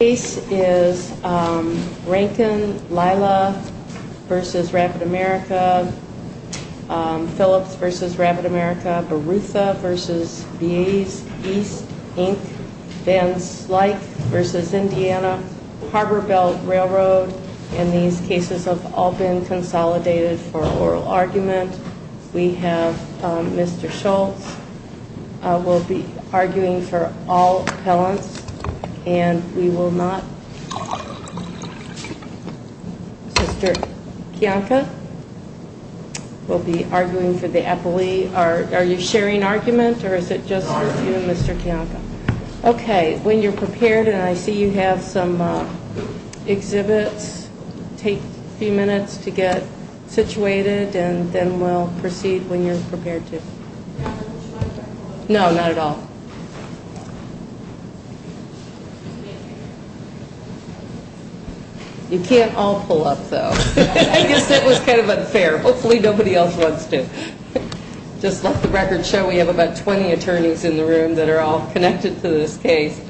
The case is Rankin-Lyla v. Rapid America, Phillips v. Rapid America, Barutha v. BAE East, Inc., Van Slyke v. Indiana Harbor Belt Railroad, and these cases have all been consolidated for oral argument. We have Mr. Schultz. We'll be arguing for all appellants, and we will not... Mr. Kiyanka will be arguing for the appellee. Are you sharing argument, or is it just you and Mr. Kiyanka? Okay. When you're prepared, and I see you have some exhibits, take a few minutes to get situated, and then we'll proceed when you're prepared to. No, not at all. You can't all pull up, though. I guess that was kind of unfair. Hopefully nobody else wants to. Just let the record show we have about 20 attorneys in the room that are all connected to this case.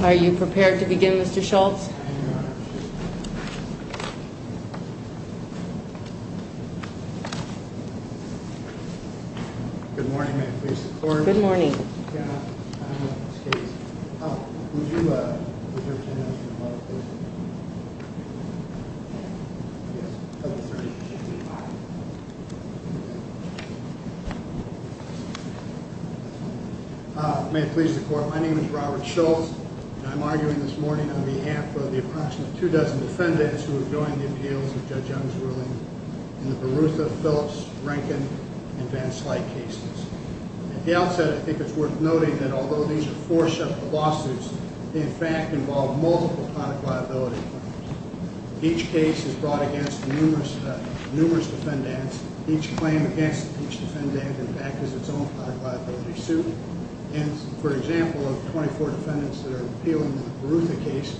Are you prepared to begin, Mr. Schultz? I am, Your Honor. Good morning. May it please the Court? Good morning. May it please the Court? My name is Robert Schultz, and I'm arguing this morning on behalf of the approximate two dozen defendants who have joined the appeals of Judge Young's ruling in the Baruta, Phillips, Rankin, and Van Slyke cases. At the outset, I think it's worth noting that although these are four separate lawsuits, they in fact involve multiple private liability claims. Each case is brought against numerous defendants. Each claim against each defendant, in fact, is its own private liability suit. And, for example, of 24 defendants that are appealing the Baruta case,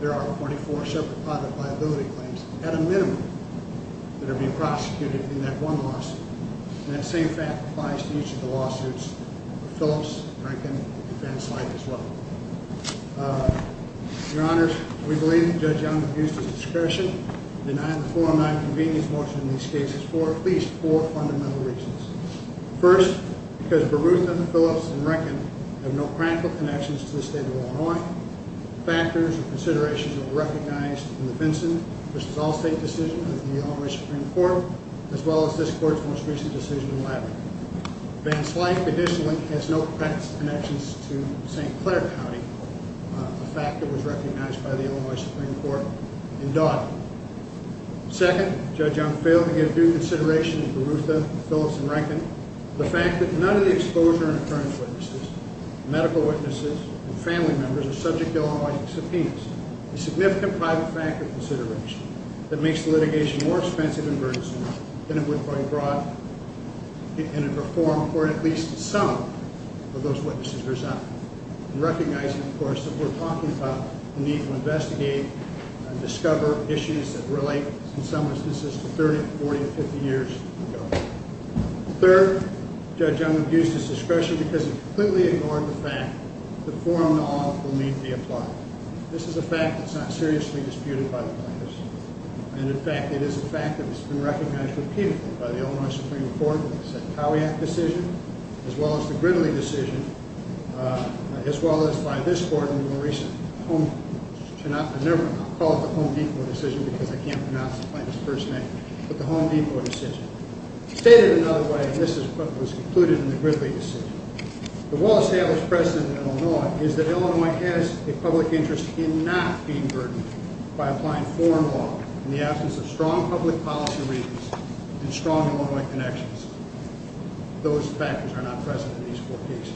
there are 24 separate private liability claims, at a minimum, that are being prosecuted in that one lawsuit. And that same fact applies to each of the lawsuits of Phillips, Rankin, and Van Slyke as well. Your Honor, we believe that Judge Young abused his discretion in denying the 409 convenience motion in these cases for at least four fundamental reasons. First, because Baruta, Phillips, and Rankin have no practical connections to the state of Illinois. The factors and considerations were recognized in the Vinson v. Allstate decision of the Illinois Supreme Court, as well as this Court's most recent decision in Labrador. Van Slyke, additionally, has no connections to St. Clair County, a fact that was recognized by the Illinois Supreme Court in Dodd. Second, Judge Young failed to give due consideration to Baruta, Phillips, and Rankin. The fact that none of the exposure and attorney's witnesses, medical witnesses, and family members are subject to Illinois subpoenas. A significant private factor consideration that makes the litigation more expensive and burdensome than it would have been brought in a reform court, at least some of those witnesses' results. And recognizing, of course, that we're talking about the need to investigate and discover issues that relate, in some instances, to 30, 40, or 50 years ago. Third, Judge Young abused his discretion because he completely ignored the fact that the 409 will need to be applied. This is a fact that's not seriously disputed by the plaintiffs. And, in fact, it is a fact that it's been recognized repeatedly by the Illinois Supreme Court in the Setkawiak decision, as well as the Gridley decision, as well as by this Court in the more recent Home Depot decision. Stated another way, and this is what was concluded in the Gridley decision, The Wallace-Hales precedent in Illinois is that Illinois has a public interest in not being burdened by applying foreign law in the absence of strong public policy reasons and strong Illinois connections. Those factors are not present in these four cases.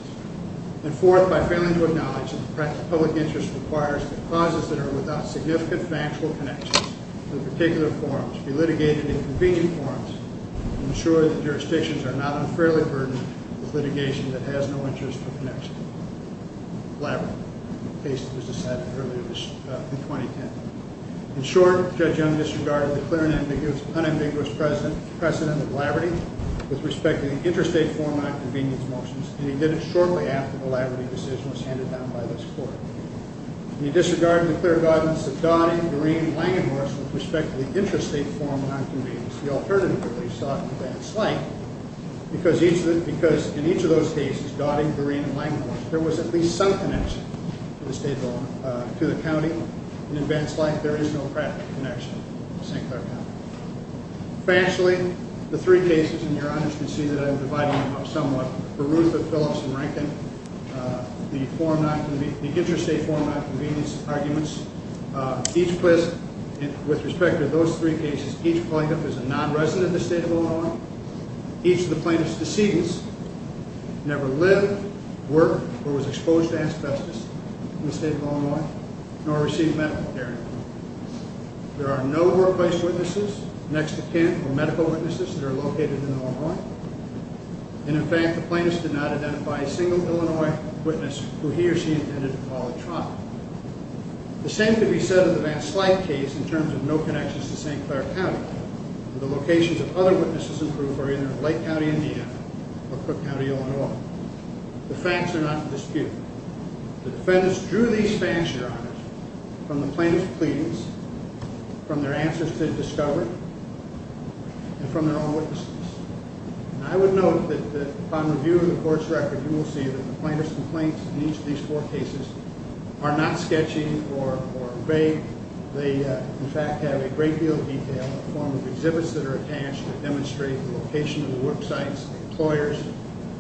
And fourth, by failing to acknowledge that the public interest requires that causes that are without significant factual connections to the particular forms be litigated in convenient forms, and ensure that jurisdictions are not unfairly burdened with litigation that has no interest or connection. In short, Judge Young disregarded the clear and unambiguous precedent of laboraty with respect to the interstate 409 convenience motions, and he did it shortly after the laboraty decision was handed down by this Court. He disregarded the clear guidance that Dodd, Green, Lang, and Morris with respect to the interstate 409 convenience, the alternative release sought in advanced light, because in each of those cases, Dodd, Green, and Lang, and Morris, there was at least some connection to the county. In advanced light, there is no practical connection to St. Clair County. Factually, the three cases, and your honors can see that I'm dividing them up somewhat, Berutha, Phillips, and Rankin, the interstate 409 convenience arguments, each place, with respect to those three cases, each plaintiff is a non-resident of the state of Illinois, each of the plaintiff's decedents never lived, worked, or was exposed to asbestos in the state of Illinois, nor received medical care. There are no workplace witnesses, next of kin, or medical witnesses that are located in Illinois, and in fact, the plaintiff did not identify a single Illinois witness who he or she intended to call a trial. The same could be said of the advanced light case in terms of no connections to St. Clair County, and the locations of other witnesses in Berutha are either in Lake County, Indiana, or Crook County, Illinois. The facts are not in dispute. The defense drew these facts, your honors, from the plaintiff's pleadings, from their answers to discovery, and from their own witnesses. I would note that upon reviewing the court's record, you will see that the plaintiff's complaints in each of these four cases are not sketchy or vague. They, in fact, have a great deal of detail in the form of exhibits that are attached that demonstrate the location of the worksites, employers,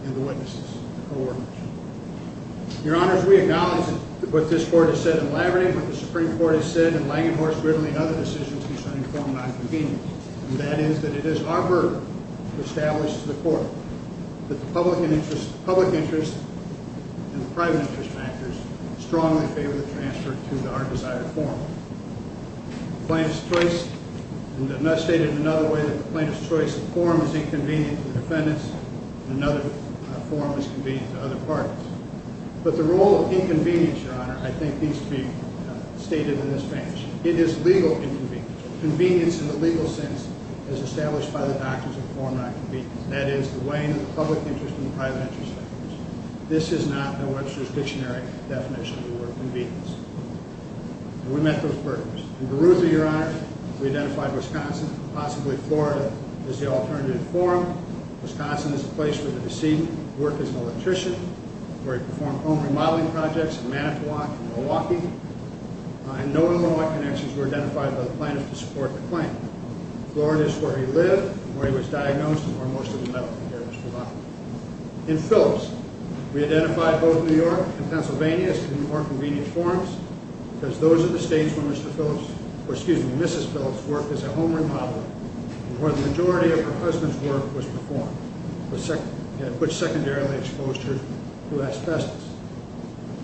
and the witnesses. Your honors, we acknowledge what this court has said in Laverty, what the Supreme Court has said in Langenhorst, Gridley, and other decisions concerning form non-convenience, and that is that it is our burden to establish to the court that the public interest and the private interest factors strongly favor the transfer to our desired form. In another way, the plaintiff's choice of form is inconvenient to defendants, and another form is convenient to other parties. But the role of inconvenience, your honor, I think needs to be stated in this case. It is legal inconvenience. Convenience in the legal sense is established by the doctrines of form non-convenience. That is, the weighing of the public interest and the private interest factors. This is not the Webster's Dictionary definition of the word convenience. And we met those burdens. In Beruza, your honor, we identified Wisconsin, possibly Florida, as the alternative forum. Wisconsin is a place where the deceived work as an electrician, where he performed home remodeling projects in Manitowoc and Milwaukee. And no Illinois connections were identified by the plaintiff to support the claim. Florida is where he lived, where he was diagnosed, and where most of the medical care is provided. In Phillips, we identified both New York and Pennsylvania as the more convenient forums, because those are the states where Mrs. Phillips worked as a home remodeler, and where the majority of her husband's work was performed, which secondarily exposed her to asbestos.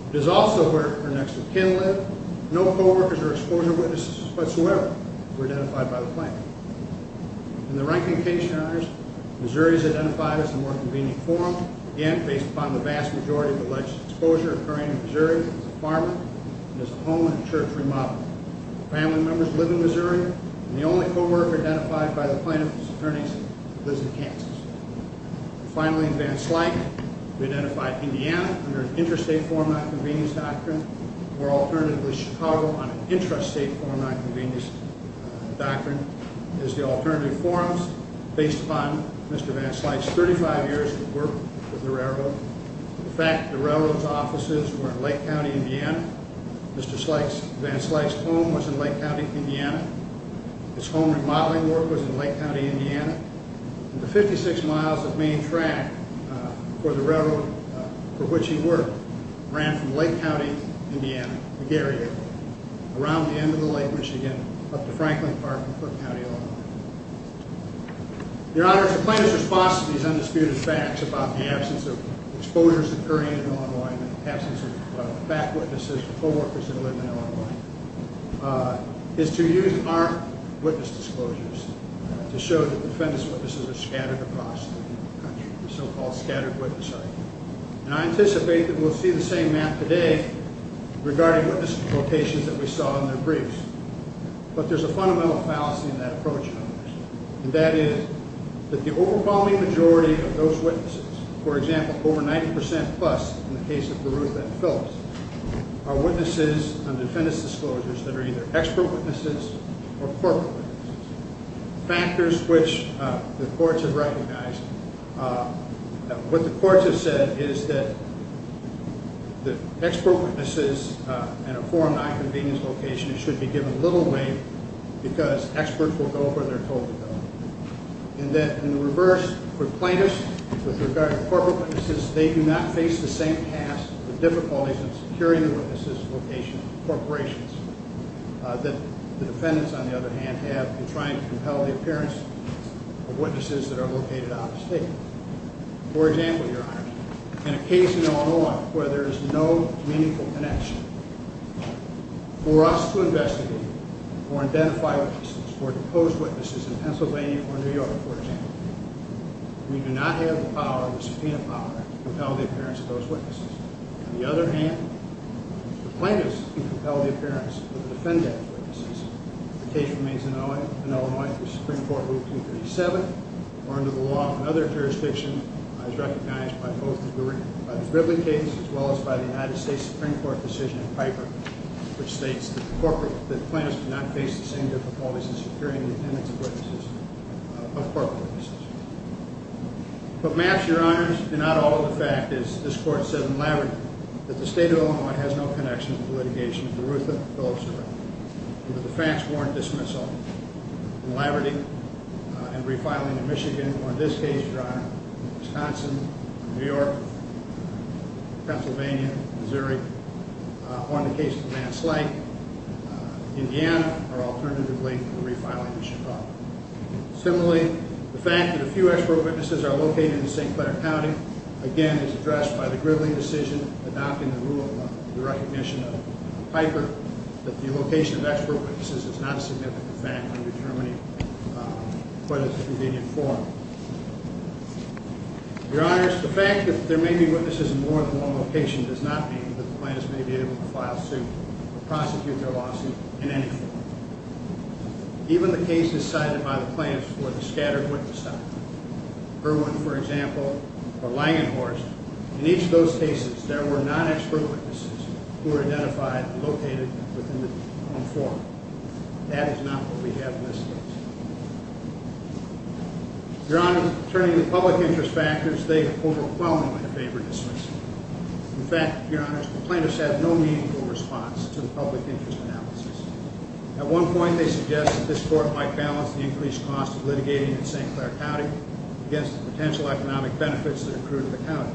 It is also where her next of kin lived. No co-workers or exposure witnesses whatsoever were identified by the plaintiff. In the Rankin case, your honors, Missouri is identified as the more convenient forum, again based upon the vast majority of alleged exposure occurring in Missouri as a farmer and as a home and church remodeler. Family members live in Missouri, and the only co-worker identified by the plaintiff's attorneys lives in Kansas. Finally, in Van Slyke, we identified Indiana under an interstate forum nonconvenience doctrine, where alternatively Chicago on an intrastate forum nonconvenience doctrine is the alternative forums, based upon Mr. Van Slyke's 35 years of work with the railroad. In fact, the railroad's offices were in Lake County, Indiana. Mr. Van Slyke's home was in Lake County, Indiana. His home remodeling work was in Lake County, Indiana. The 56 miles of main track for the railroad for which he worked ran from Lake County, Indiana, around the end of the Lake Michigan up to Franklin Park in Foote County, Illinois. Your honors, the plaintiff's response to these undisputed facts about the absence of exposures occurring in Illinois and the absence of back witnesses or co-workers that live in Illinois is to use armed witness disclosures to show that defendants' witnesses are scattered across the country, the so-called scattered witness site. And I anticipate that we'll see the same map today regarding witness locations that we saw in their briefs. But there's a fundamental fallacy in that approach, and that is that the overwhelming majority of those witnesses, for example, over 90% plus in the case of Garuth at Phillips, are witnesses on defendant's disclosures that are either expert witnesses or corporate witnesses, factors which the courts have recognized. What the courts have said is that the expert witnesses in a foreign nonconvenience location should be given little weight because experts will go where they're told to go. And that in the reverse, for plaintiffs, with regard to corporate witnesses, they do not face the same task of the difficulties in securing the witnesses' location in corporations that the defendants, on the other hand, have in trying to compel the appearance of witnesses that are located out of state. For example, your honors, in a case in Illinois where there is no meaningful connection, for us to investigate or identify witnesses or depose witnesses in Pennsylvania or New York, for example, we do not have the power or the subpoena power to compel the appearance of those witnesses. On the other hand, the plaintiffs can compel the appearance of the defendant's witnesses if the case remains in Illinois through Supreme Court Rule 237 or under the law of another jurisdiction as recognized by both the Rivlin case as well as by the United States Supreme Court decision in Piper which states that the plaintiffs do not face the same difficulties in securing the attendance of witnesses of corporate witnesses. But maps, your honors, do not alter the fact, as this court said in Laverty, that the state of Illinois has no connection to the litigation of Berutha Phillips-Rivlin. Under the Fax Warrant Dismissal in Laverty and refiling in Michigan, or in this case, your honors, Wisconsin, New York, Pennsylvania, Missouri, or in the case of Van Slyke, Indiana, or alternatively, refiling in Chicago. Similarly, the fact that a few ex-pro witnesses are located in St. Clare County, again, is addressed by the Rivlin decision adopting the rule of the recognition of Piper, that the location of ex-pro witnesses is not a significant fact when determining whether it's a convenient forum. Your honors, the fact that there may be witnesses in more than one location does not mean that the plaintiffs may be able to file suit or prosecute their lawsuit in any form. Even the case decided by the plaintiffs for the scattered witness site, Irwin, for example, or Langenhorst, in each of those cases, there were non-ex-pro witnesses who were identified and located within the forum. That is not what we have in this case. Your honors, turning to public interest factors, they overwhelmingly favor dismissal. In fact, your honors, the plaintiffs had no meaningful response to the public interest analysis. At one point, they suggested this court might balance the increased cost of litigating in St. Clare County against the potential economic benefits that accrue to the county.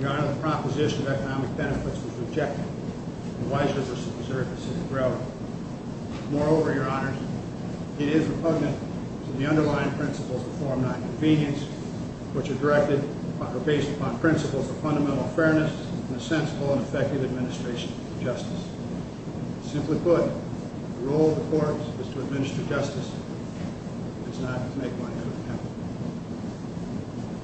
Your honor, the proposition of economic benefits was rejected, and wiser to preserve the city's growth. Moreover, your honors, it is repugnant to the underlying principles of Form 9 convenience, which are based upon principles of fundamental fairness and a sensible and effective administration of justice. Simply put, the role of the courts is to administer justice, not to make money out of the county.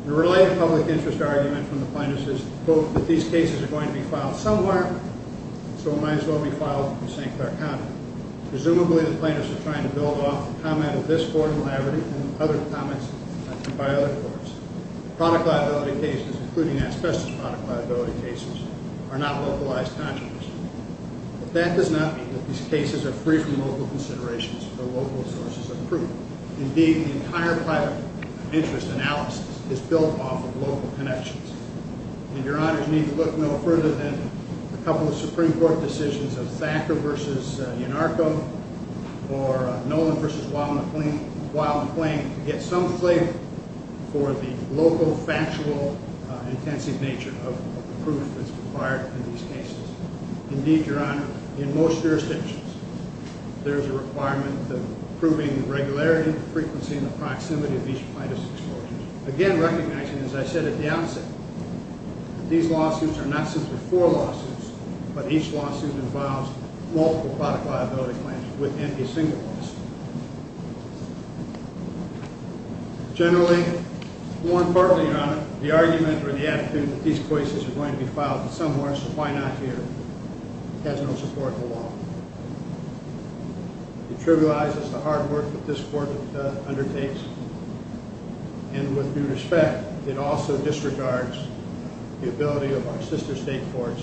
The related public interest argument from the plaintiffs is, quote, that these cases are going to be filed somewhere, so it might as well be filed in St. Clare County. Presumably, the plaintiffs are trying to build off the comment of this court in Laverty and other comments made by other courts. Product liability cases, including asbestos product liability cases, are not localized consequences. But that does not mean that these cases are free from local considerations or local sources of proof. Indeed, the entire public interest analysis is built off of local connections. And your honors need to look no further than a couple of Supreme Court decisions of Thacker v. Yanarko or Nolan v. Wild & Plain to get some flavor for the local, factual, intensive nature of the proof that's required in these cases. Indeed, your honor, in most jurisdictions, there is a requirement of proving regularity, frequency, and the proximity of each plaintiff's exposure. Again, recognizing, as I said at the outset, that these lawsuits are not simply four lawsuits, but each lawsuit involves multiple product liability claims within a single lawsuit. Generally, more importantly, your honor, the argument or the attitude that these cases are going to be filed somewhere, so why not here, has no support at all. It trivializes the hard work that this court undertakes, and with due respect, it also disregards the ability of our sister state courts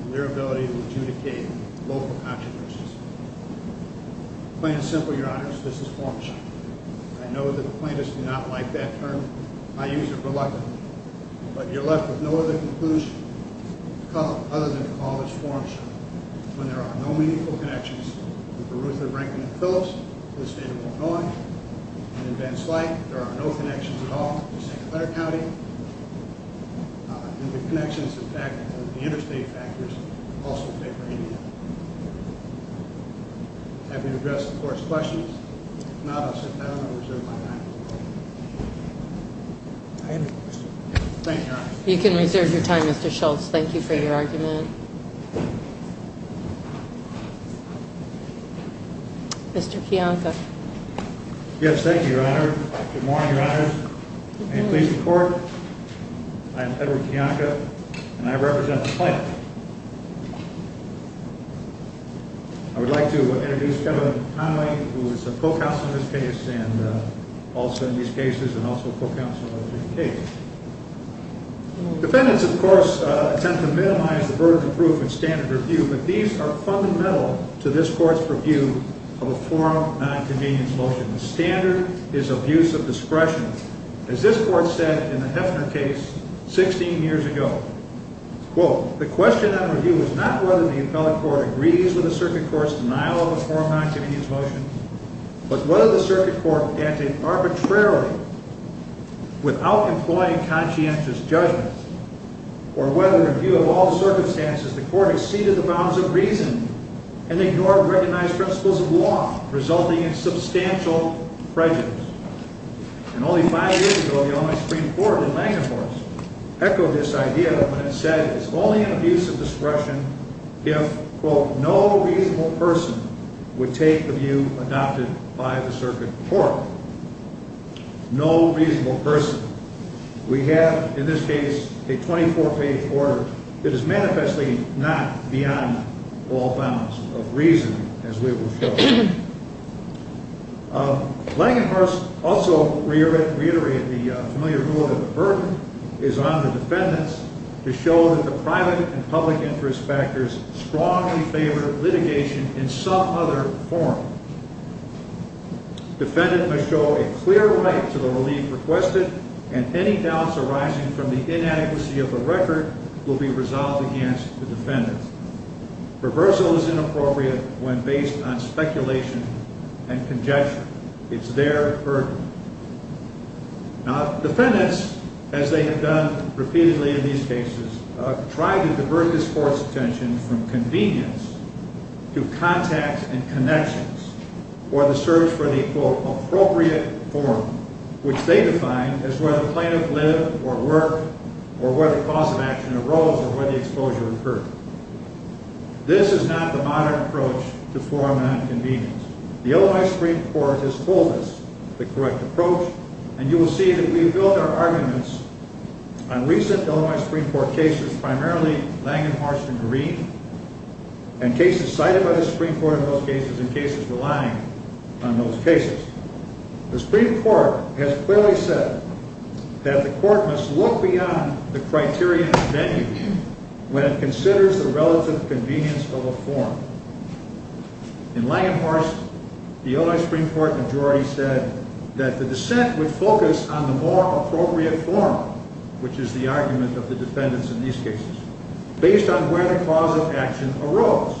and their ability to adjudicate local controversies. Plain and simple, your honors, this is four lawsuits. I know that the plaintiffs do not like that term. I use it reluctantly, but you're left with no other conclusion other than to call this forum short, when there are no meaningful connections with Beruther, Rankin, and Phillips to the state of Illinois, and in Van Slyke, there are no connections at all to St. Clair County, and the connections, in fact, include the interstate factors also favor Indiana. I'm happy to address the court's questions. If not, I'll sit down and reserve my time. Thank you, your honor. You can reserve your time, Mr. Schultz. Thank you for your argument. Mr. Kiyanka. Yes, thank you, your honor. Good morning, your honors. May it please the court, I am Edward Kiyanka, and I represent the plaintiff. I would like to introduce Kevin Connelly, who is a co-counsel in this case, and also in these cases, and also a co-counsel in other cases. Defendants, of course, attempt to minimize the burden of proof in standard review, but these are fundamental to this court's purview of a forum of nonconvenience motion. The standard is abuse of discretion. As this court said in the Heffner case 16 years ago, quote, The question on review is not whether the appellate court agrees with the circuit court's denial of a forum of nonconvenience motion, but whether the circuit court acted arbitrarily without employing conscientious judgment, or whether, in view of all circumstances, the court exceeded the bounds of reason and ignored recognized principles of law, resulting in substantial prejudice. And only five years ago, the Ombudsman Supreme Court in Langenhorst echoed this idea when it said it's only an abuse of discretion if, quote, No reasonable person would take the view adopted by the circuit court. No reasonable person. We have, in this case, a 24-page order that is manifestly not beyond all bounds of reason, as we will show. Langenhorst also reiterated the familiar rule that the burden is on the defendants to show that the private and public interest factors strongly favor litigation in some other forum. Defendant must show a clear right to the relief requested, and any doubts arising from the inadequacy of the record will be resolved against the defendant. Reversal is inappropriate when based on speculation and conjecture. It's their burden. Now, defendants, as they have done repeatedly in these cases, try to divert this court's attention from convenience to contacts and connections, or the search for the, quote, appropriate forum, which they define as where the plaintiff lived or worked, or where the cause of action arose, or where the exposure occurred. This is not the modern approach to forum and on convenience. The Illinois Supreme Court has told us the correct approach, and you will see that we have built our arguments on recent Illinois Supreme Court cases, primarily Langenhorst and Green, and cases cited by the Supreme Court in those cases, and cases relying on those cases. The Supreme Court has clearly said that the court must look beyond the criterion of venue when it considers the relative convenience of a forum. In Langenhorst, the Illinois Supreme Court majority said that the dissent would focus on the more appropriate forum, which is the argument of the defendants in these cases, based on where the cause of action arose.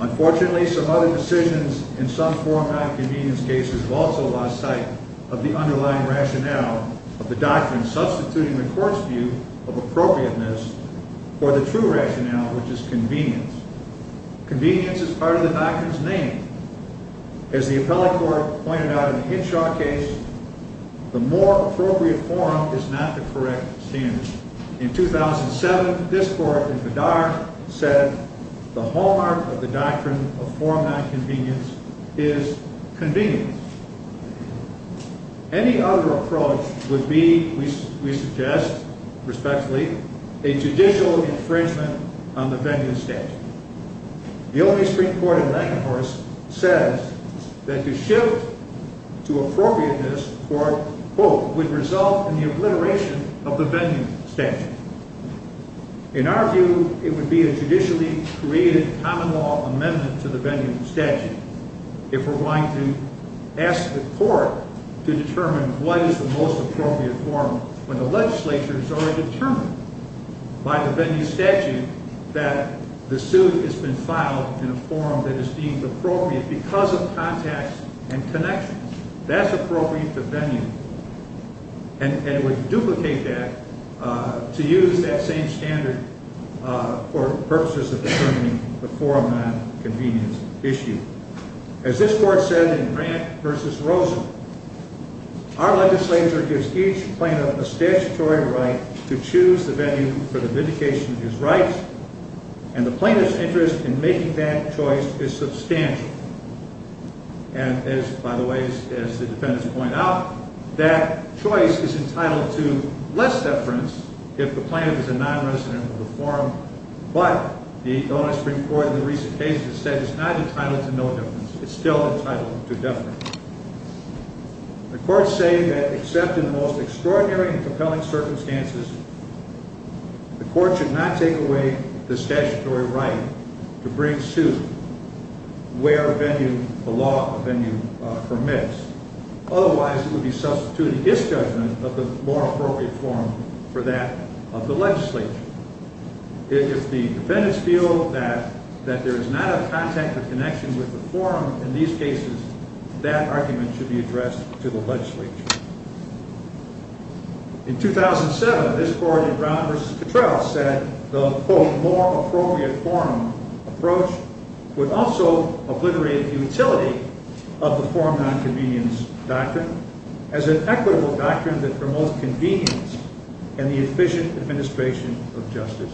Unfortunately, some other decisions in some forum on convenience cases have also lost sight of the underlying rationale of the doctrine and are substituting the court's view of appropriateness for the true rationale, which is convenience. Convenience is part of the doctrine's name. As the appellate court pointed out in the Hinshaw case, the more appropriate forum is not the correct standard. In 2007, this court in Bedard said, the hallmark of the doctrine of forum on convenience is convenience. Any other approach would be, we suggest respectfully, a judicial infringement on the venue statute. The Illinois Supreme Court in Langenhorst says that the shift to appropriateness for hope would result in the obliteration of the venue statute. In our view, it would be a judicially created common law amendment to the venue statute if we're going to ask the court to determine what is the most appropriate forum when the legislature has already determined by the venue statute that the suit has been filed in a forum that is deemed appropriate because of contacts and connections. That's appropriate to venue. And it would duplicate that to use that same standard for purposes of determining the forum on convenience issue. As this court said in Grant v. Rosen, our legislature gives each plaintiff a statutory right to choose the venue for the vindication of his rights, and the plaintiff's interest in making that choice is substantial. And as, by the way, as the defendants point out, that choice is entitled to less deference if the plaintiff is a nonresident of the forum. But the Illinois Supreme Court in the recent cases has said it's not entitled to no deference. It's still entitled to deference. The courts say that except in the most extraordinary and compelling circumstances, the court should not take away the statutory right to bring suit where venue, the law of venue, permits. Otherwise, it would be substituting its judgment of the more appropriate forum for that of the legislature. If the defendants feel that there is not a contact or connection with the forum in these cases, that argument should be addressed to the legislature. In 2007, this court in Brown v. Cottrell said the, quote, more appropriate forum approach would also obliterate the utility of the forum on convenience doctrine as an equitable doctrine that promotes convenience and the efficient administration of justice.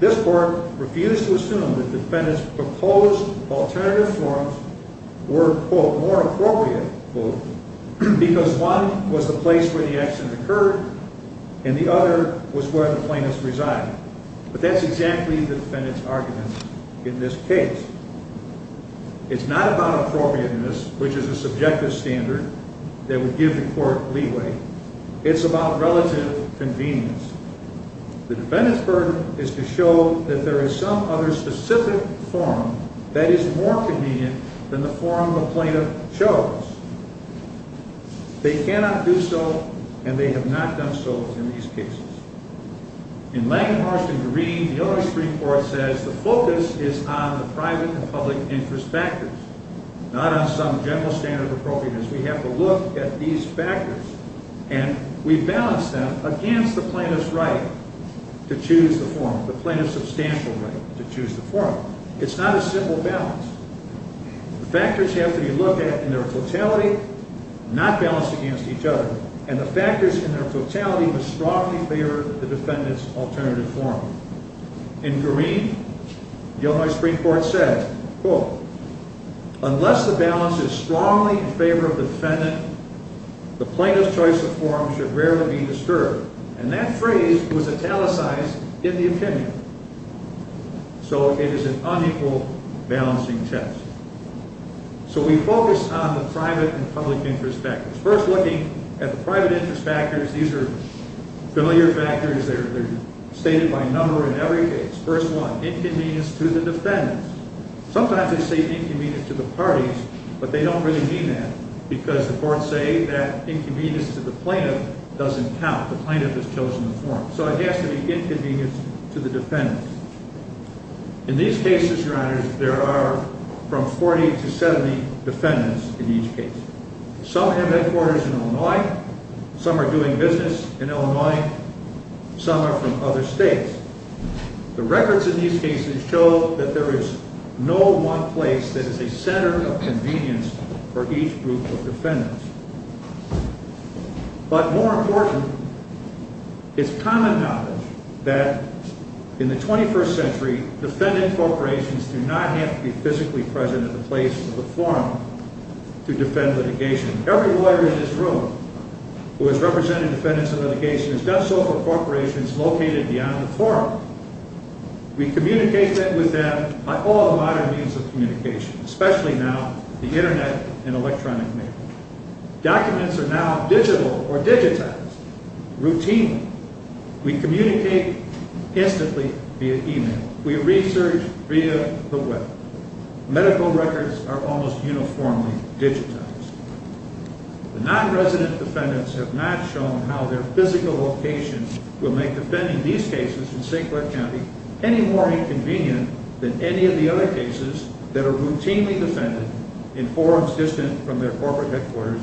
This court refused to assume that defendants' proposed alternative forums were, quote, more appropriate, quote, because one was the place where the accident occurred and the other was where the plaintiffs resided. But that's exactly the defendants' argument in this case. It's not about appropriateness, which is a subjective standard that would give the court leeway. It's about relative convenience. The defendants' burden is to show that there is some other specific forum that is more convenient than the forum the plaintiff chose. They cannot do so, and they have not done so in these cases. In Langhorst v. Green, the Illinois Supreme Court says the focus is on the private and public interest factors, not on some general standard of appropriateness. We have to look at these factors, and we balance them against the plaintiff's right to choose the forum, the plaintiff's substantial right to choose the forum. It's not a simple balance. The factors have to be looked at in their totality, not balanced against each other, and the factors in their totality must strongly favor the defendant's alternative forum. In Green, the Illinois Supreme Court said, quote, unless the balance is strongly in favor of the defendant, the plaintiff's choice of forum should rarely be disturbed. And that phrase was italicized in the opinion. So it is an unequal balancing test. So we focus on the private and public interest factors, first looking at the private interest factors. These are familiar factors. They're stated by number in every case. First one, inconvenience to the defendants. Sometimes they say inconvenience to the parties, but they don't really mean that, because the courts say that inconvenience to the plaintiff doesn't count. The plaintiff has chosen the forum. So it has to be inconvenience to the defendants. In these cases, Your Honors, there are from 40 to 70 defendants in each case. Some have headquarters in Illinois. Some are doing business in Illinois. Some are from other states. The records in these cases show that there is no one place that is a center of convenience for each group of defendants. But more important, it's common knowledge that in the 21st century, defendant corporations do not have to be physically present at the place of the forum to defend litigation. Every lawyer in this room who has represented defendants in litigation has done so for corporations located beyond the forum. We communicate with them by all modern means of communication, especially now the internet and electronic mail. Documents are now digital or digitized routinely. We communicate instantly via email. We research via the web. Medical records are almost uniformly digitized. The non-resident defendants have not shown how their physical location will make defending these cases in St. Clair County any more inconvenient than any of the other cases that are routinely defended in forums distant from their corporate headquarters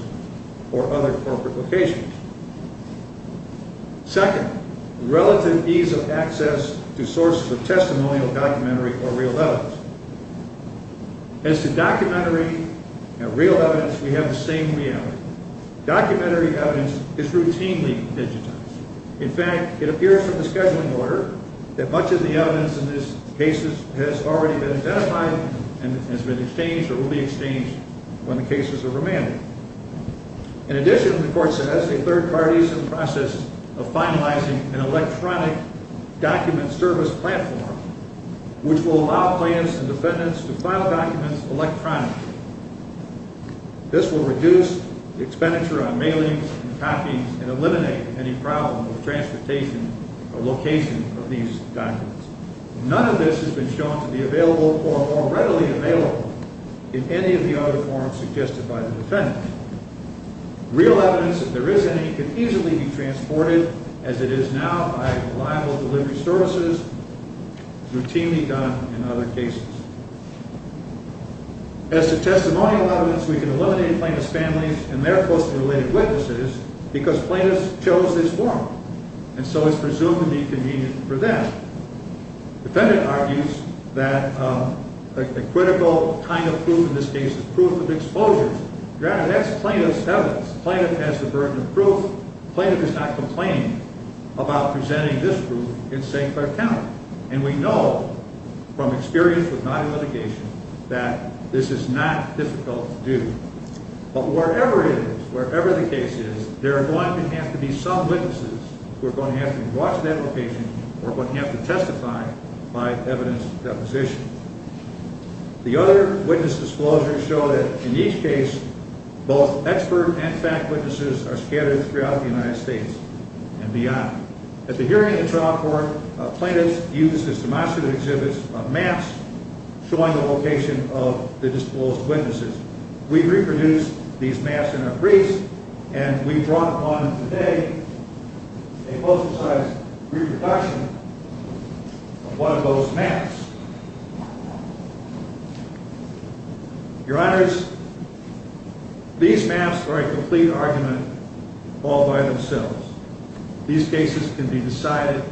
or other corporate locations. Second, relative ease of access to sources of testimonial documentary or real evidence. As to documentary and real evidence, we have the same reality. Documentary evidence is routinely digitized. In fact, it appears from the scheduling order that much of the evidence in these cases has already been identified and has been exchanged or will be exchanged when the cases are remanded. In addition, the court says a third party is in the process of finalizing an electronic document service platform, which will allow plaintiffs and defendants to file documents electronically. This will reduce the expenditure on mailings and copies and eliminate any problem with transportation or location of these documents. None of this has been shown to be available or more readily available in any of the other forums suggested by the defendant. Real evidence, if there is any, can easily be transported as it is now by reliable delivery services, routinely done in other cases. As to testimonial evidence, we can eliminate plaintiff's families and their closely related witnesses because plaintiffs chose this forum, and so it's presumed to be convenient for them. Defendant argues that the critical kind of proof, in this case, is proof of exposure. Granted, that's plaintiff's evidence. Plaintiff has the burden of proof. Plaintiff is not complaining about presenting this proof it's safe for account. And we know, from experience with non-litigation, that this is not difficult to do. But wherever it is, wherever the case is, there are going to have to be some witnesses who are going to have to be brought to that location or are going to have to testify by evidence deposition. The other witness disclosures show that, in each case, both expert and fact witnesses are scattered throughout the United States and beyond. At the hearing of the trial court, plaintiffs used as demonstrative exhibits maps showing the location of the disclosed witnesses. We reproduced these maps in our briefs, and we've drawn upon them today a close-to-size reproduction of one of those maps. Your Honors, these maps are a complete argument all by themselves. These cases can be decided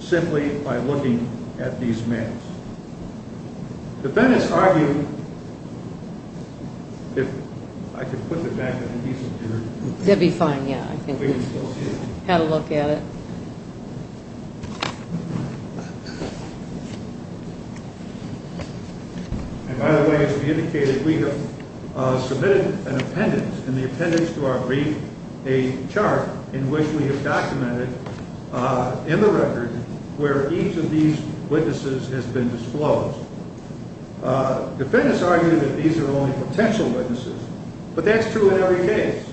simply by looking at these maps. Defendants argue... And by the way, as we indicated, we have submitted an appendix in the appendix to our brief a chart in which we have documented, in the record, where each of these witnesses has been disclosed. Defendants argue that these are only potential witnesses, but that's true in every case,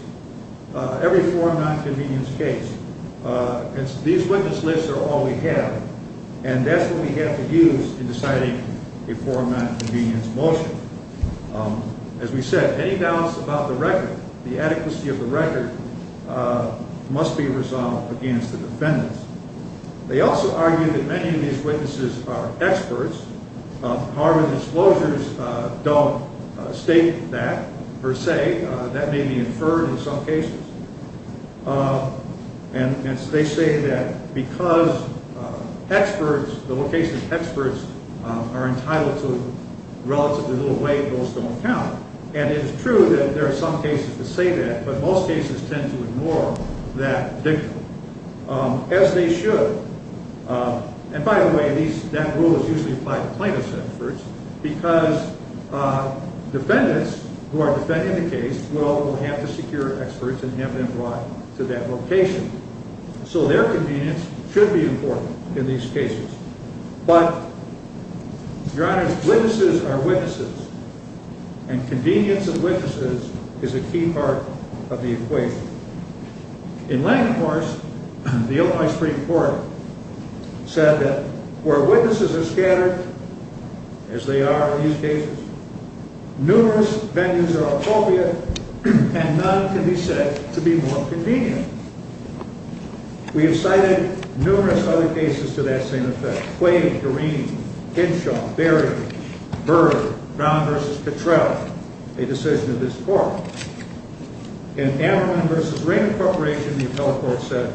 every forum nonconvenience case. These witness lists are all we have, and that's what we have to use in deciding a forum nonconvenience motion. As we said, any doubts about the record, the adequacy of the record, must be resolved against the defendants. They also argue that many of these witnesses are experts. However, the disclosures don't state that per se. That may be inferred in some cases. And they say that because experts, the location of experts, are entitled to relatively little weight, those don't count. And it is true that there are some cases that say that, but most cases tend to ignore that dictum, as they should. And by the way, that rule is usually applied to plaintiffs' experts, because defendants who are defending the case will have to secure experts and have them brought to that location. So their convenience should be important in these cases. But, Your Honor, witnesses are witnesses, and convenience of witnesses is a key part of the equation. In Langenhorst, the Illinois Supreme Court said that where witnesses are scattered, as they are in these cases, numerous venues are appropriate and none can be said to be more convenient. We have cited numerous other cases to that same effect. Quay, Doreen, Hinshaw, Berry, Byrd, Brown v. Cottrell, a decision of this court. In Ammerman v. Raymond Corporation, the appellate court said,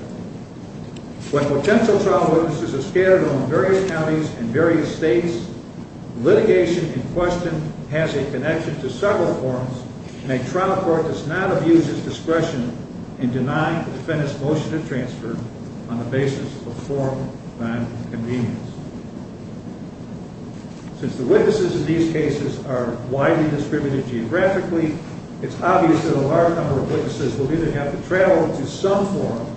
when potential trial witnesses are scattered on various counties and various states, litigation in question has a connection to several forms, and a trial court does not abuse its discretion in denying the defendant's motion of transfer on the basis of a form of nonconvenience. Since the witnesses in these cases are widely distributed geographically, it's obvious that a large number of witnesses will either have to travel to some form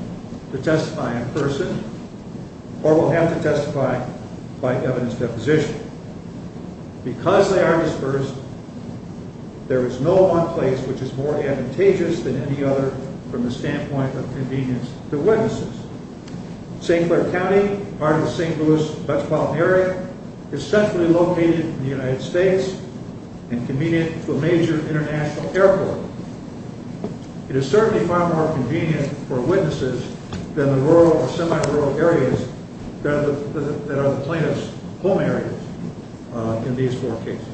to testify in person, or will have to testify by evidence deposition. Because they are dispersed, there is no one place which is more advantageous than any other from the standpoint of convenience to witnesses. St. Clair County, part of the St. Louis metropolitan area, is centrally located in the United States and convenient for a major international airport. It is certainly far more convenient for witnesses than the rural or semi-rural areas that are the plaintiff's home areas in these four cases.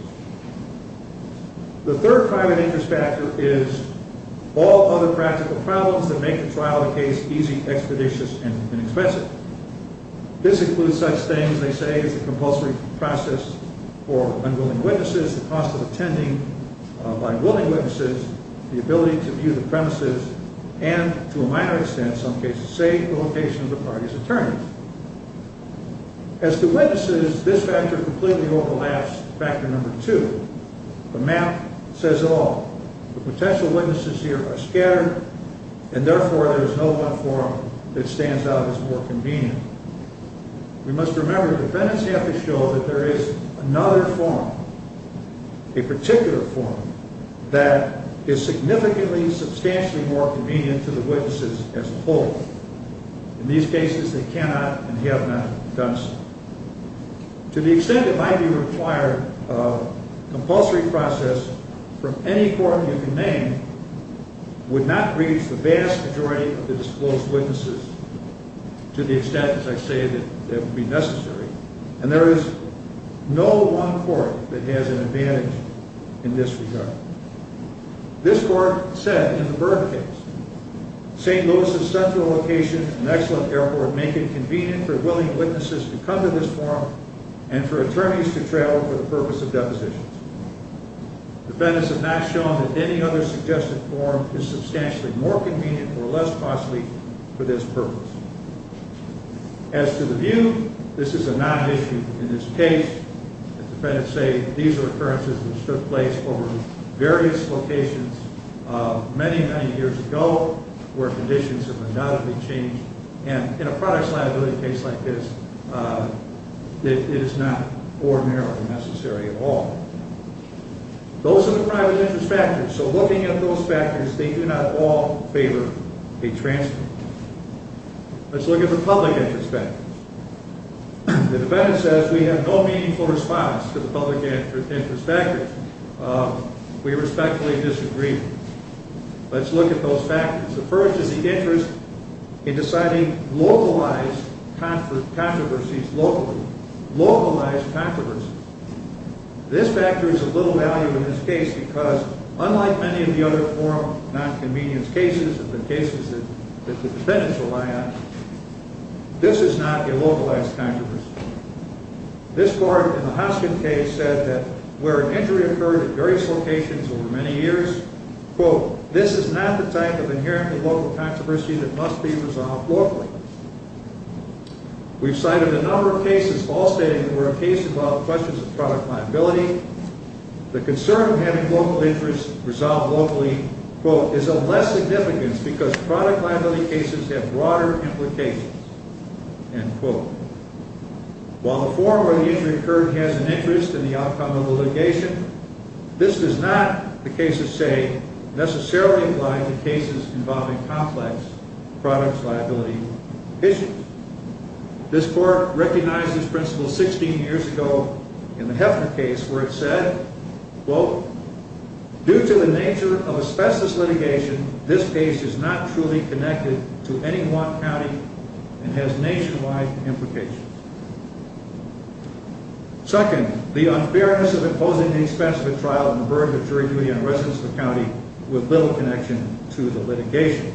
The third private interest factor is all other practical problems that make the trial of the case easy, expeditious, and inexpensive. This includes such things, they say, as the compulsory process for unwilling witnesses, the cost of attending by willing witnesses, the ability to view the premises, and, to a minor extent in some cases, say, the location of the parties' attorneys. As to witnesses, this factor completely overlaps factor number two. The map says it all. The potential witnesses here are scattered, and therefore there is no one form that stands out as more convenient. We must remember the defendants have to show that there is another form, a particular form, that is significantly, substantially more convenient to the witnesses as a whole. In these cases, they cannot and have not done so. To the extent it might be required, a compulsory process from any court you can name would not reach the vast majority of the disclosed witnesses to the extent, as I say, that it would be necessary, and there is no one court that has an advantage in this regard. This court said in the Byrd case, St. Louis's central location, an excellent airport, make it convenient for willing witnesses to come to this forum and for attorneys to travel for the purpose of depositions. Defendants have not shown that any other suggested form is substantially more convenient or less costly for this purpose. As to the view, this is a non-issue in this case. As defendants say, these are occurrences which took place over various locations many, many years ago where conditions have undoubtedly changed, and in a products liability case like this, it is not ordinarily necessary at all. Those are the private interest factors, so looking at those factors, they do not all favor a transfer. Let's look at the public interest factors. The defendant says we have no meaningful response to the public interest factors. We respectfully disagree. Let's look at those factors. The first is the interest in deciding localized controversies locally, localized controversy. This factor is of little value in this case because unlike many of the other forum nonconvenience cases and the cases that the defendants rely on, this is not a localized controversy. This court in the Hoskin case said that where an injury occurred at various locations over many years, quote, this is not the type of inherently local controversy that must be resolved locally. We've cited a number of cases all stating that there were cases about questions of product liability. The concern of having local interest resolved locally, quote, is of less significance because product liability cases have broader implications, end quote. While the forum where the injury occurred has an interest in the outcome of litigation, this does not, the cases say, necessarily apply to cases involving complex product liability issues. This court recognized this principle 16 years ago in the Heffner case where it said, quote, due to the nature of a specialist litigation, this case is not truly connected to any one county and has nationwide implications. Second, the unfairness of imposing the expense of a trial and the burden of jury duty on residents of the county with little connection to the litigation.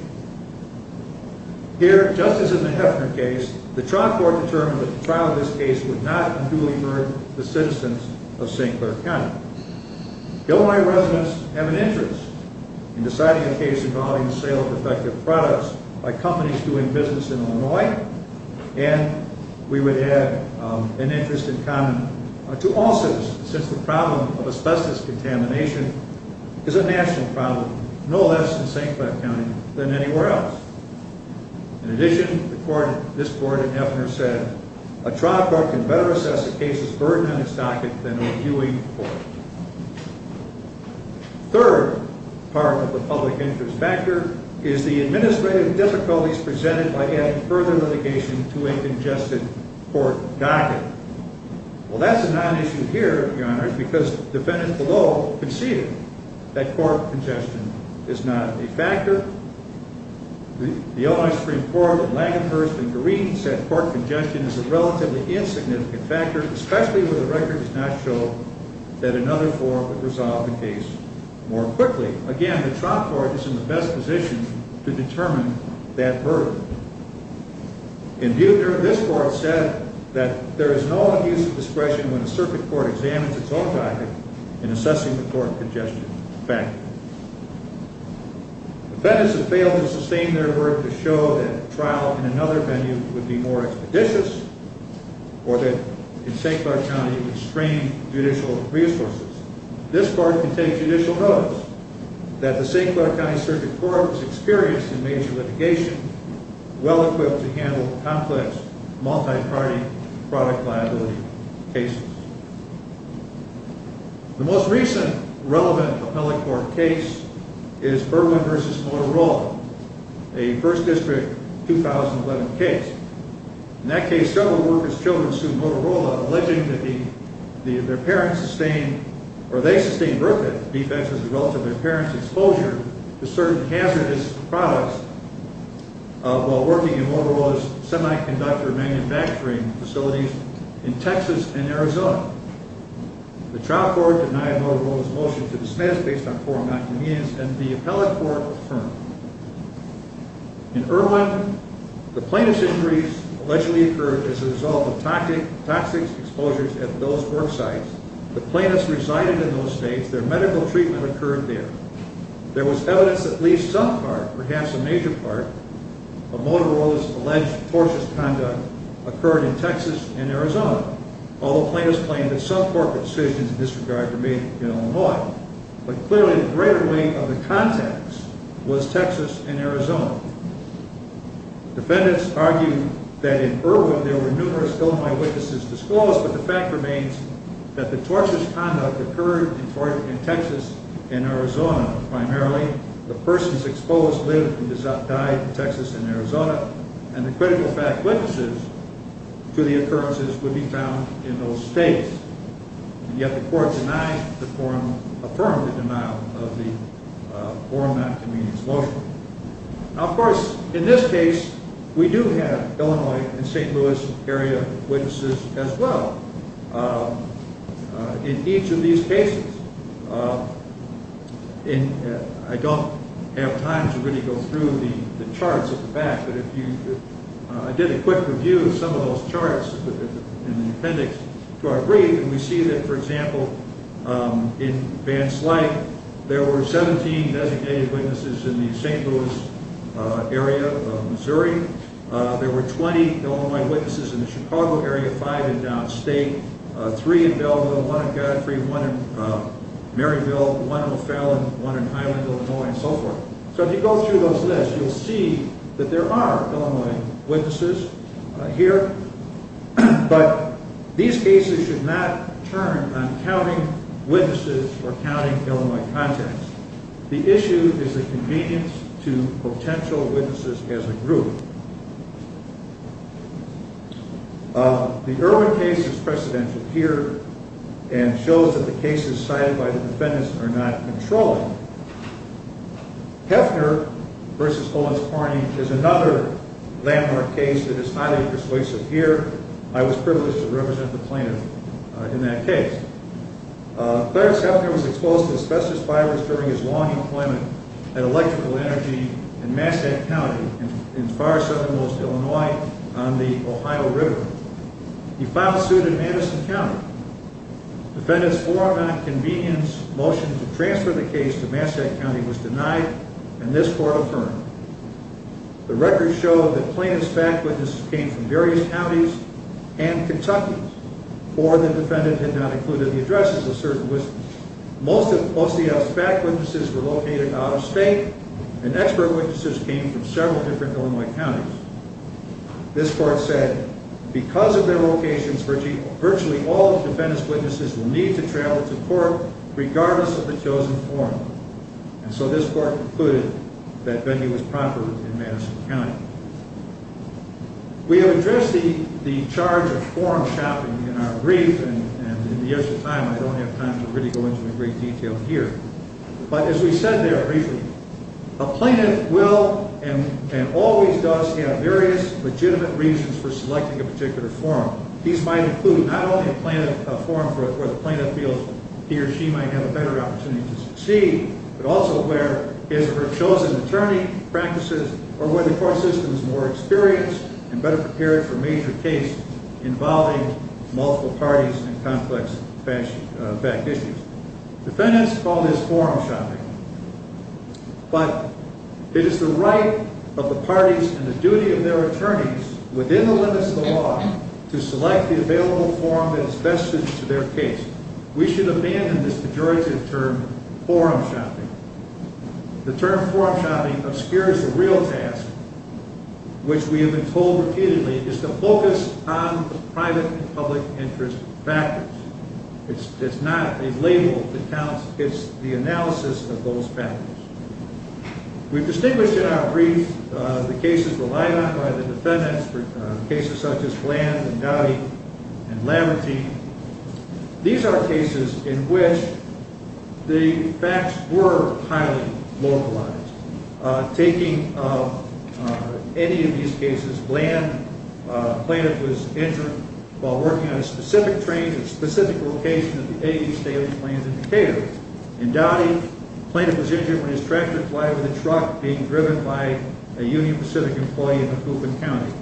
Here, just as in the Heffner case, the trial court determined that the trial of this case would not duly burden the citizens of St. Clair County. Illinois residents have an interest in deciding a case involving the sale of effective products by companies doing business in Illinois, and we would have an interest in common to all citizens since the problem of asbestos contamination is a national problem, no less in St. Clair County than anywhere else. In addition, this court in Heffner said, a trial court can better assess a case's burden on its docket than a viewing court. Third part of the public interest factor is the administrative difficulties presented by adding further litigation to a congested court docket. Well, that's a non-issue here, Your Honor, because defendants below conceded that court congestion is not a factor. The Illinois Supreme Court of Langenhurst and Green said court congestion is a relatively insignificant factor, especially when the record does not show that another forum would resolve the case more quickly. Again, the trial court is in the best position to determine that burden. In Heffner, this court said that there is no abuse of discretion when a circuit court examines its own docket in assessing the court congestion factor. Defendants have failed to sustain their work to show that a trial in another venue would be more expeditious or that in St. Clair County, it would strain judicial resources. This court can take judicial notes that the St. Clair County Circuit Court has experienced in major litigation, well equipped to handle complex, multi-party product liability cases. The most recent relevant appellate court case is Berwyn v. Motorola, a 1st District 2011 case. In that case, several workers' children sued Motorola, alleging that their parents sustained, defenseless relative to their parents' exposure to certain hazardous products while working in Motorola's semiconductor manufacturing facilities in Texas and Arizona. The trial court denied Motorola's motion to dismiss based on forum inconvenience, and the appellate court affirmed. In Irwin, the plaintiff's injuries allegedly occurred as a result of toxic exposures at those work sites. The plaintiffs resided in those states. Their medical treatment occurred there. There was evidence that at least some part, perhaps a major part, of Motorola's alleged tortuous conduct occurred in Texas and Arizona, although plaintiffs claimed that some corporate decisions in this regard were made in Illinois. But clearly, the greater weight of the context was Texas and Arizona. Defendants argued that in Irwin, there were numerous ill-my-witnesses disclosed, but the fact remains that the tortuous conduct occurred in Texas and Arizona primarily. The persons exposed lived and died in Texas and Arizona, and the critical fact witnesses to the occurrences would be found in those states. And yet the court denied the forum, affirmed the denial of the forum inconvenience motion. Now, of course, in this case, we do have Illinois and St. Louis area witnesses as well. In each of these cases, I don't have time to really go through the charts at the back, but I did a quick review of some of those charts in the appendix to our brief, and we see that, for example, in Van Slyke, there were 17 designated witnesses in the St. Louis area of Missouri. There were 20 ill-my-witnesses in the Chicago area, five in downstate, three in Belleville, one in Godfrey, one in Maryville, one in O'Fallon, one in Highland, Illinois, and so forth. So if you go through those lists, you'll see that there are ill-my-witnesses here, but these cases should not turn on counting witnesses or counting ill-my-contacts. The issue is the convenience to potential witnesses as a group. The Irwin case is precedential here and shows that the cases cited by the defendants are not controlling. Heffner v. Hollins-Clarney is another landmark case that is highly persuasive here. I was privileged to represent the plaintiff in that case. Clarence Heffner was exposed to asbestos fibers during his long employment at Electrical Energy in Massachusetts County in far southernmost Illinois on the Ohio River. He filed suit in Madison County. Defendants' warrant on a convenience motion to transfer the case to Massachusetts County was denied, and this court affirmed. The record showed that plaintiff's back witnesses came from various counties and Kentucky, or the defendant had not included the addresses of certain witnesses. Most of OCF's back witnesses were located out-of-state, and expert witnesses came from several different Illinois counties. This court said, because of their locations, virtually all the defendant's witnesses will need to travel to court regardless of the chosen forum. And so this court concluded that venue was proper in Madison County. We have addressed the charge of forum shopping in our brief, and in the interest of time, I don't have time to really go into great detail here. But as we said there briefly, a plaintiff will and always does have various legitimate reasons for selecting a particular forum. These might include not only a forum where the plaintiff feels he or she might have a better opportunity to succeed, but also where his or her chosen attorney practices or where the court system is more experienced and better prepared for a major case involving multiple parties and complex fact issues. Defendants call this forum shopping. But it is the right of the parties and the duty of their attorneys within the limits of the law to select the available forum that is best suited to their case. We should abandon this pejorative term, forum shopping. The term forum shopping obscures the real task, which we have been told repeatedly, is to focus on the private and public interest factors. It's not a label that counts. It's the analysis of those factors. We've distinguished in our brief the cases relied on by the defendants, cases such as Bland and Dowdy and Lambertine. These are cases in which the facts were highly localized. Taking any of these cases, Bland, the plaintiff was injured while working on a specific train at a specific location at the A.E. Staley Plains in Decatur. In Dowdy, the plaintiff was injured when his tractor collided with a truck being driven by a Union Pacific employee in Macoupin County.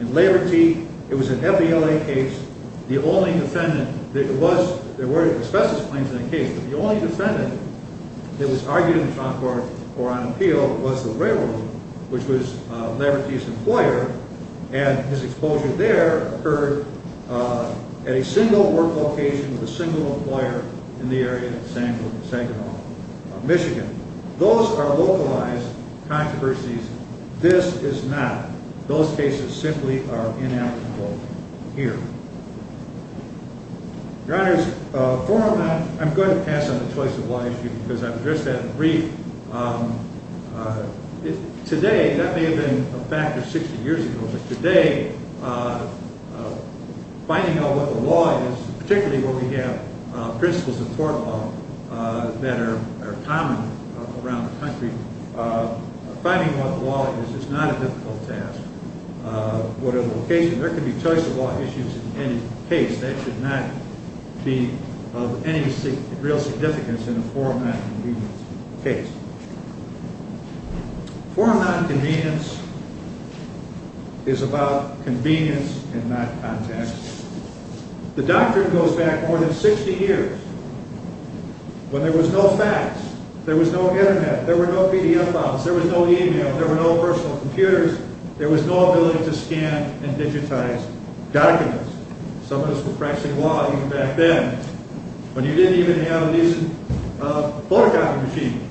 In Lambertine, it was an FBLA case. The only defendant that was argued in the trial court or on appeal was the railroad, which was Lambertine's employer, and his exposure there occurred at a single work location with a single employer in the area of Sangamon, Michigan. Those are localized controversies. This is not. Those cases simply are inalienable here. Your Honors, I'm going to pass on the choice of law issue because I've addressed that in brief. Today, that may have been a fact of 60 years ago, but today, finding out what the law is, particularly where we have principles of court law that are common around the country, finding out what the law is is not a difficult task. Whatever the location, there can be choice of law issues in any case. That should not be of any real significance in a forum nonconvenience case. Forum nonconvenience is about convenience and not context. The doctrine goes back more than 60 years, when there was no fax, there was no internet, there were no PDF files, there was no e-mail, there were no personal computers, there was no ability to scan and digitize documents. Some of us were practicing law even back then, when you didn't even have a decent photocopy machine.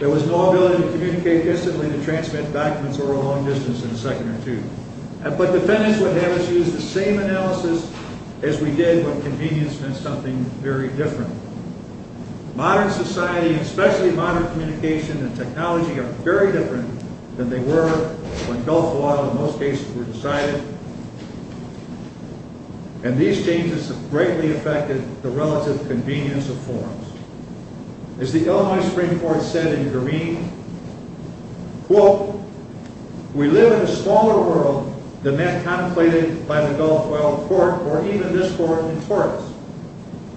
There was no ability to communicate instantly to transmit documents over a long distance in a second or two. But defendants would have us use the same analysis as we did when convenience meant something very different. Modern society, especially modern communication and technology, are very different than they were when Gulf law, in most cases, were decided. And these changes greatly affected the relative convenience of forums. As the Illinois Supreme Court said in Greene, quote, We live in a smaller world than that contemplated by the Gulf oil port or even this port in Taurus.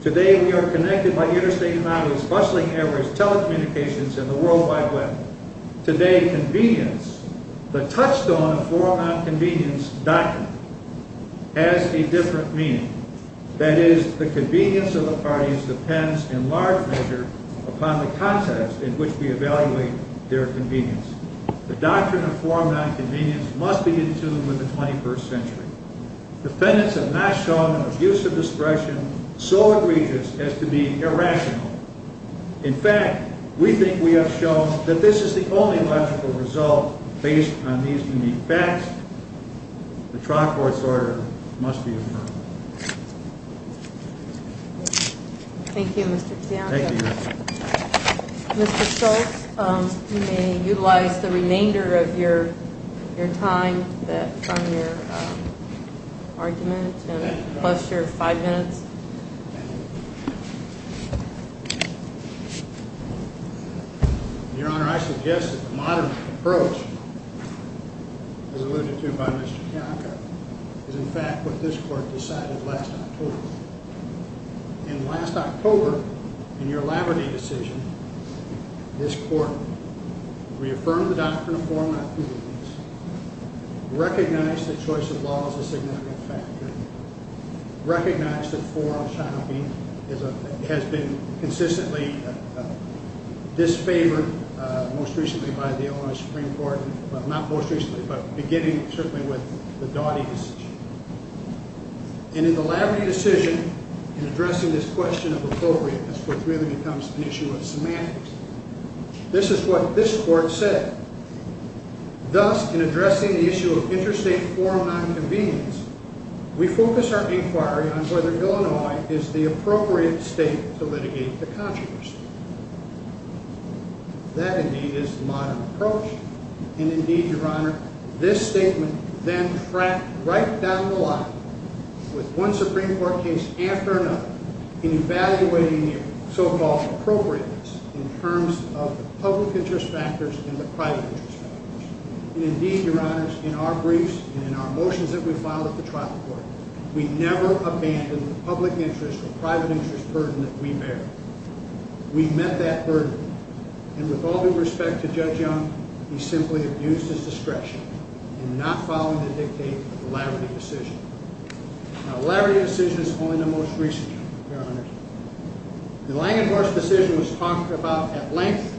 Today we are connected by interstate highways, bustling airways, telecommunications, and the world wide web. Today, convenience, the touchstone of forum nonconvenience doctrine, has a different meaning. That is, the convenience of the parties depends in large measure upon the context in which we evaluate their convenience. The doctrine of forum nonconvenience must be in tune with the 21st century. Defendants have not shown an abuse of discretion so egregious as to be irrational. In fact, we think we have shown that this is the only logical result based on these unique facts. The trial court's order must be affirmed. Thank you, Mr. Piano. Thank you, Your Honor. Mr. Stoltz, you may utilize the remainder of your time from your argument, plus your five minutes. Your Honor, I suggest that the modern approach as alluded to by Mr. Bianco is in fact what this court decided last October. And last October, in your Lavity decision, this court reaffirmed the doctrine of forum nonconvenience, recognized that choice of law is a significant factor, recognized that forum nonconvenience has been consistently disfavored most recently by the Illinois Supreme Court, well, not most recently, but beginning certainly with the Doughty decision. And in the Lavity decision, in addressing this question of appropriateness, which really becomes an issue of semantics, this is what this court said. Thus, in addressing the issue of interstate forum nonconvenience, we focus our inquiry on whether Illinois is the appropriate state to litigate the controversy. That, indeed, is the modern approach. And indeed, Your Honor, this statement then cracked right down the line with one Supreme Court case after another in evaluating the so-called appropriateness in terms of the public interest factors and the private interest factors. And indeed, Your Honor, in our briefs and in our motions that we filed at the trial court, we never abandoned the public interest or private interest burden that we bear. We met that burden. And with all due respect to Judge Young, he simply abused his discretion in not following the dictate of the Lavity decision. Now, the Lavity decision is only the most recent, Your Honor. The Langenhorst decision was talked about at length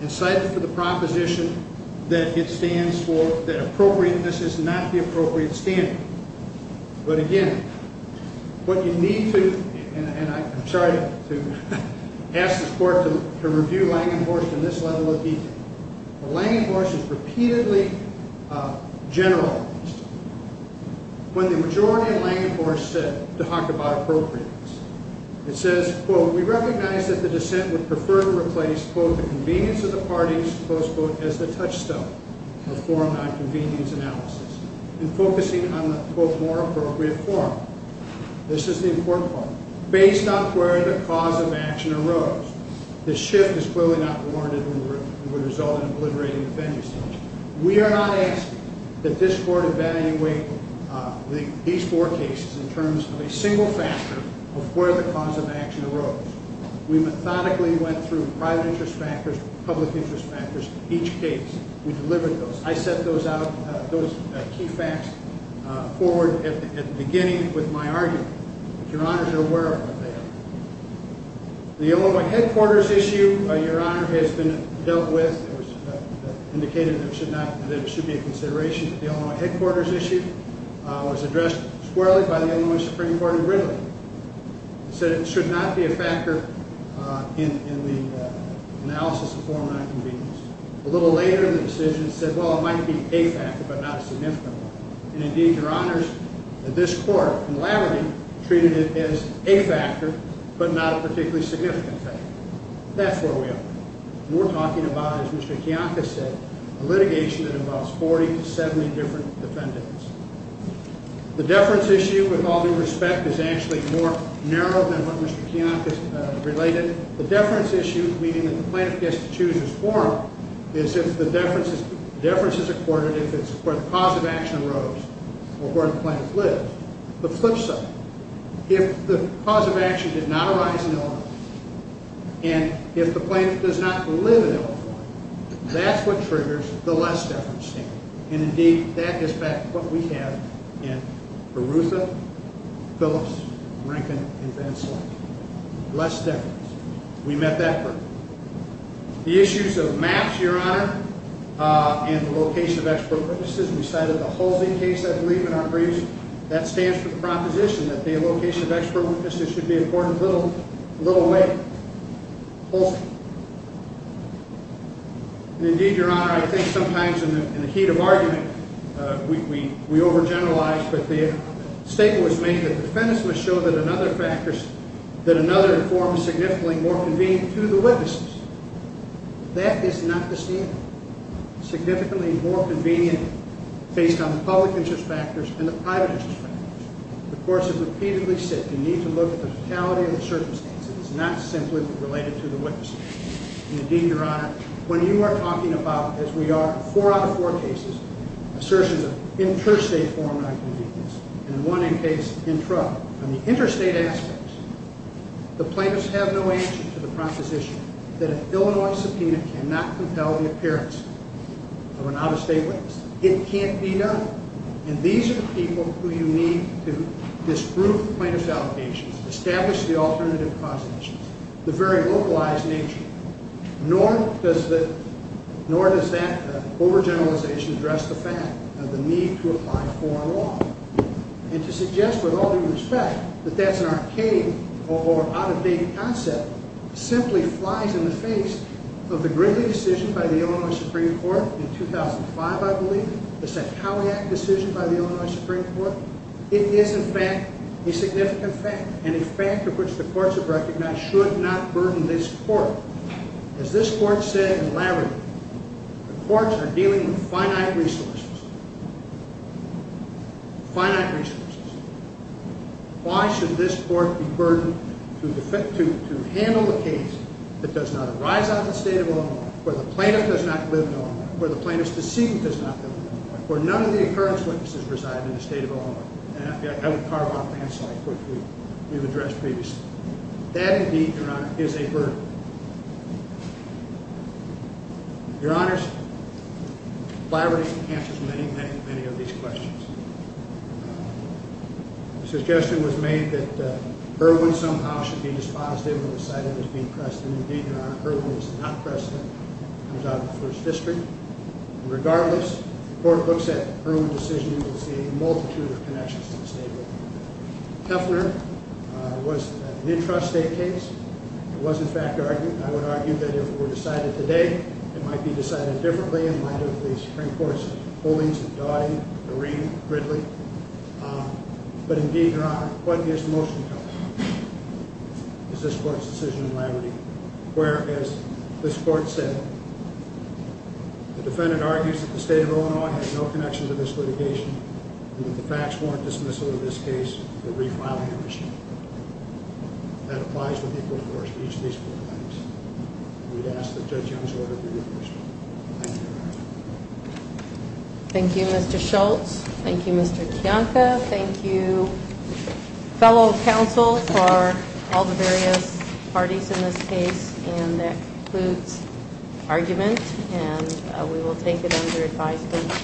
and cited for the proposition that it stands for that appropriateness is not the appropriate standard. But again, what you need to, and I'm sorry to ask the court to review Langenhorst in this level of detail, Langenhorst is repeatedly generalized. When the majority of Langenhorst said to talk about appropriateness, it says, quote, we recognize that the dissent would prefer to replace, quote, the convenience of the parties, close quote, as the touchstone of forum nonconvenience analysis and focusing on the, quote, more appropriate forum. This is the important part. Based on where the cause of action arose, the shift is clearly not warranted and would result in obliterating the fending system. We are not asking that this court evaluate these four cases in terms of a single factor of where the cause of action arose. We methodically went through private interest factors, public interest factors, each case. We delivered those. I set those out, those key facts, forward at the beginning with my argument. Your Honors are aware of what they are. The Illinois headquarters issue, Your Honor, has been dealt with. It was indicated that it should be a consideration. The Illinois headquarters issue was addressed squarely by the Illinois Supreme Court and readily. It said it should not be a factor in the analysis of forum nonconvenience. A little later in the decision, it said, well, it might be a factor but not a significant one. And indeed, Your Honors, this court, in the labyrinth, treated it as a factor but not a particularly significant factor. That's where we are. We're talking about, as Mr. Kiyonka said, a litigation that involves 40 to 70 different defendants. The deference issue, with all due respect, is actually more narrow than what Mr. Kiyonka related. The deference issue, meaning that the plaintiff gets to choose his forum, is if the deference is accorded if it's where the cause of action arose or where the plaintiff lived. The flip side, if the cause of action did not arise in Illinois and if the plaintiff does not live in Illinois, that's what triggers the less deference standard. And indeed, that is what we have in Berutha, Phillips, Rankin, and Van Slyke. Less deference. We met that hurdle. The issues of maps, Your Honor, and the location of expert witnesses, we cited the Halsey case, I believe, in our briefs. That stands for the proposition that the location of expert witnesses should be accorded little weight. Indeed, Your Honor, I think sometimes in the heat of argument, we overgeneralize, but the statement was made that defendants must show that another forum is significantly more convenient to the witnesses. That is not the statement. Significantly more convenient based on public interest factors and the private interest factors. The courts have repeatedly said you need to look at the totality of the circumstances. It's not simply related to the witnesses. And indeed, Your Honor, when you are talking about, as we are in four out of four cases, assertions of interstate forum nonconvenience and one in case intra, on the interstate aspects, the plaintiffs have no answer to the proposition that an Illinois subpoena cannot compel the appearance of an out-of-state witness. It can't be done. And these are the people who you need to disprove the plaintiff's allegations, establish the alternative causation, the very localized nature. Nor does that overgeneralization address the fact of the need to apply foreign law. And to suggest with all due respect that that's an arcane or out-of-date concept simply flies in the face of the gritty decision by the Illinois Supreme Court in 2005, I believe, the Sackowiak decision by the Illinois Supreme Court. It is, in fact, a significant fact and a fact of which the courts have recognized should not burden this court. As this court said in Larry, the courts are dealing with finite resources. Finite resources. Why should this court be burdened to handle a case that does not arise out of the state of Illinois, where the plaintiff does not live in Illinois, where the plaintiff's deceit does not live in Illinois, where none of the occurrence witnesses reside in the state of Illinois? And I would carve off the end slide, which we've addressed previously. That, indeed, Your Honor, is a burden. Your Honors, Flaherty answers many, many, many of these questions. The suggestion was made that Irwin somehow should be dispositive and decided it was being precedent. Indeed, Your Honor, Irwin was not precedent. It comes out of the first district. And regardless, the court looks at Irwin's decision and will see a multitude of connections to the state of Illinois. Teffner was an intrastate case. It was, in fact, I would argue, that if it were decided today, it might be decided differently in light of the Supreme Court's holdings of Dodd, Noreen, Ridley. But, indeed, Your Honor, what gives motion to us is this court's decision in Larry, where, as this court said, the defendant argues that the state of Illinois has no connection to this litigation and that the facts warrant dismissal of this case for refiling of the sheet. That applies with equal force to each of these four claims. We would ask that Judge Young's order be reversed. Thank you, Your Honor. Thank you, Mr. Schultz. Thank you, Mr. Kiyanka. Thank you, fellow counsel for all the various parties in this case. And that concludes argument. And we will take it under advisement.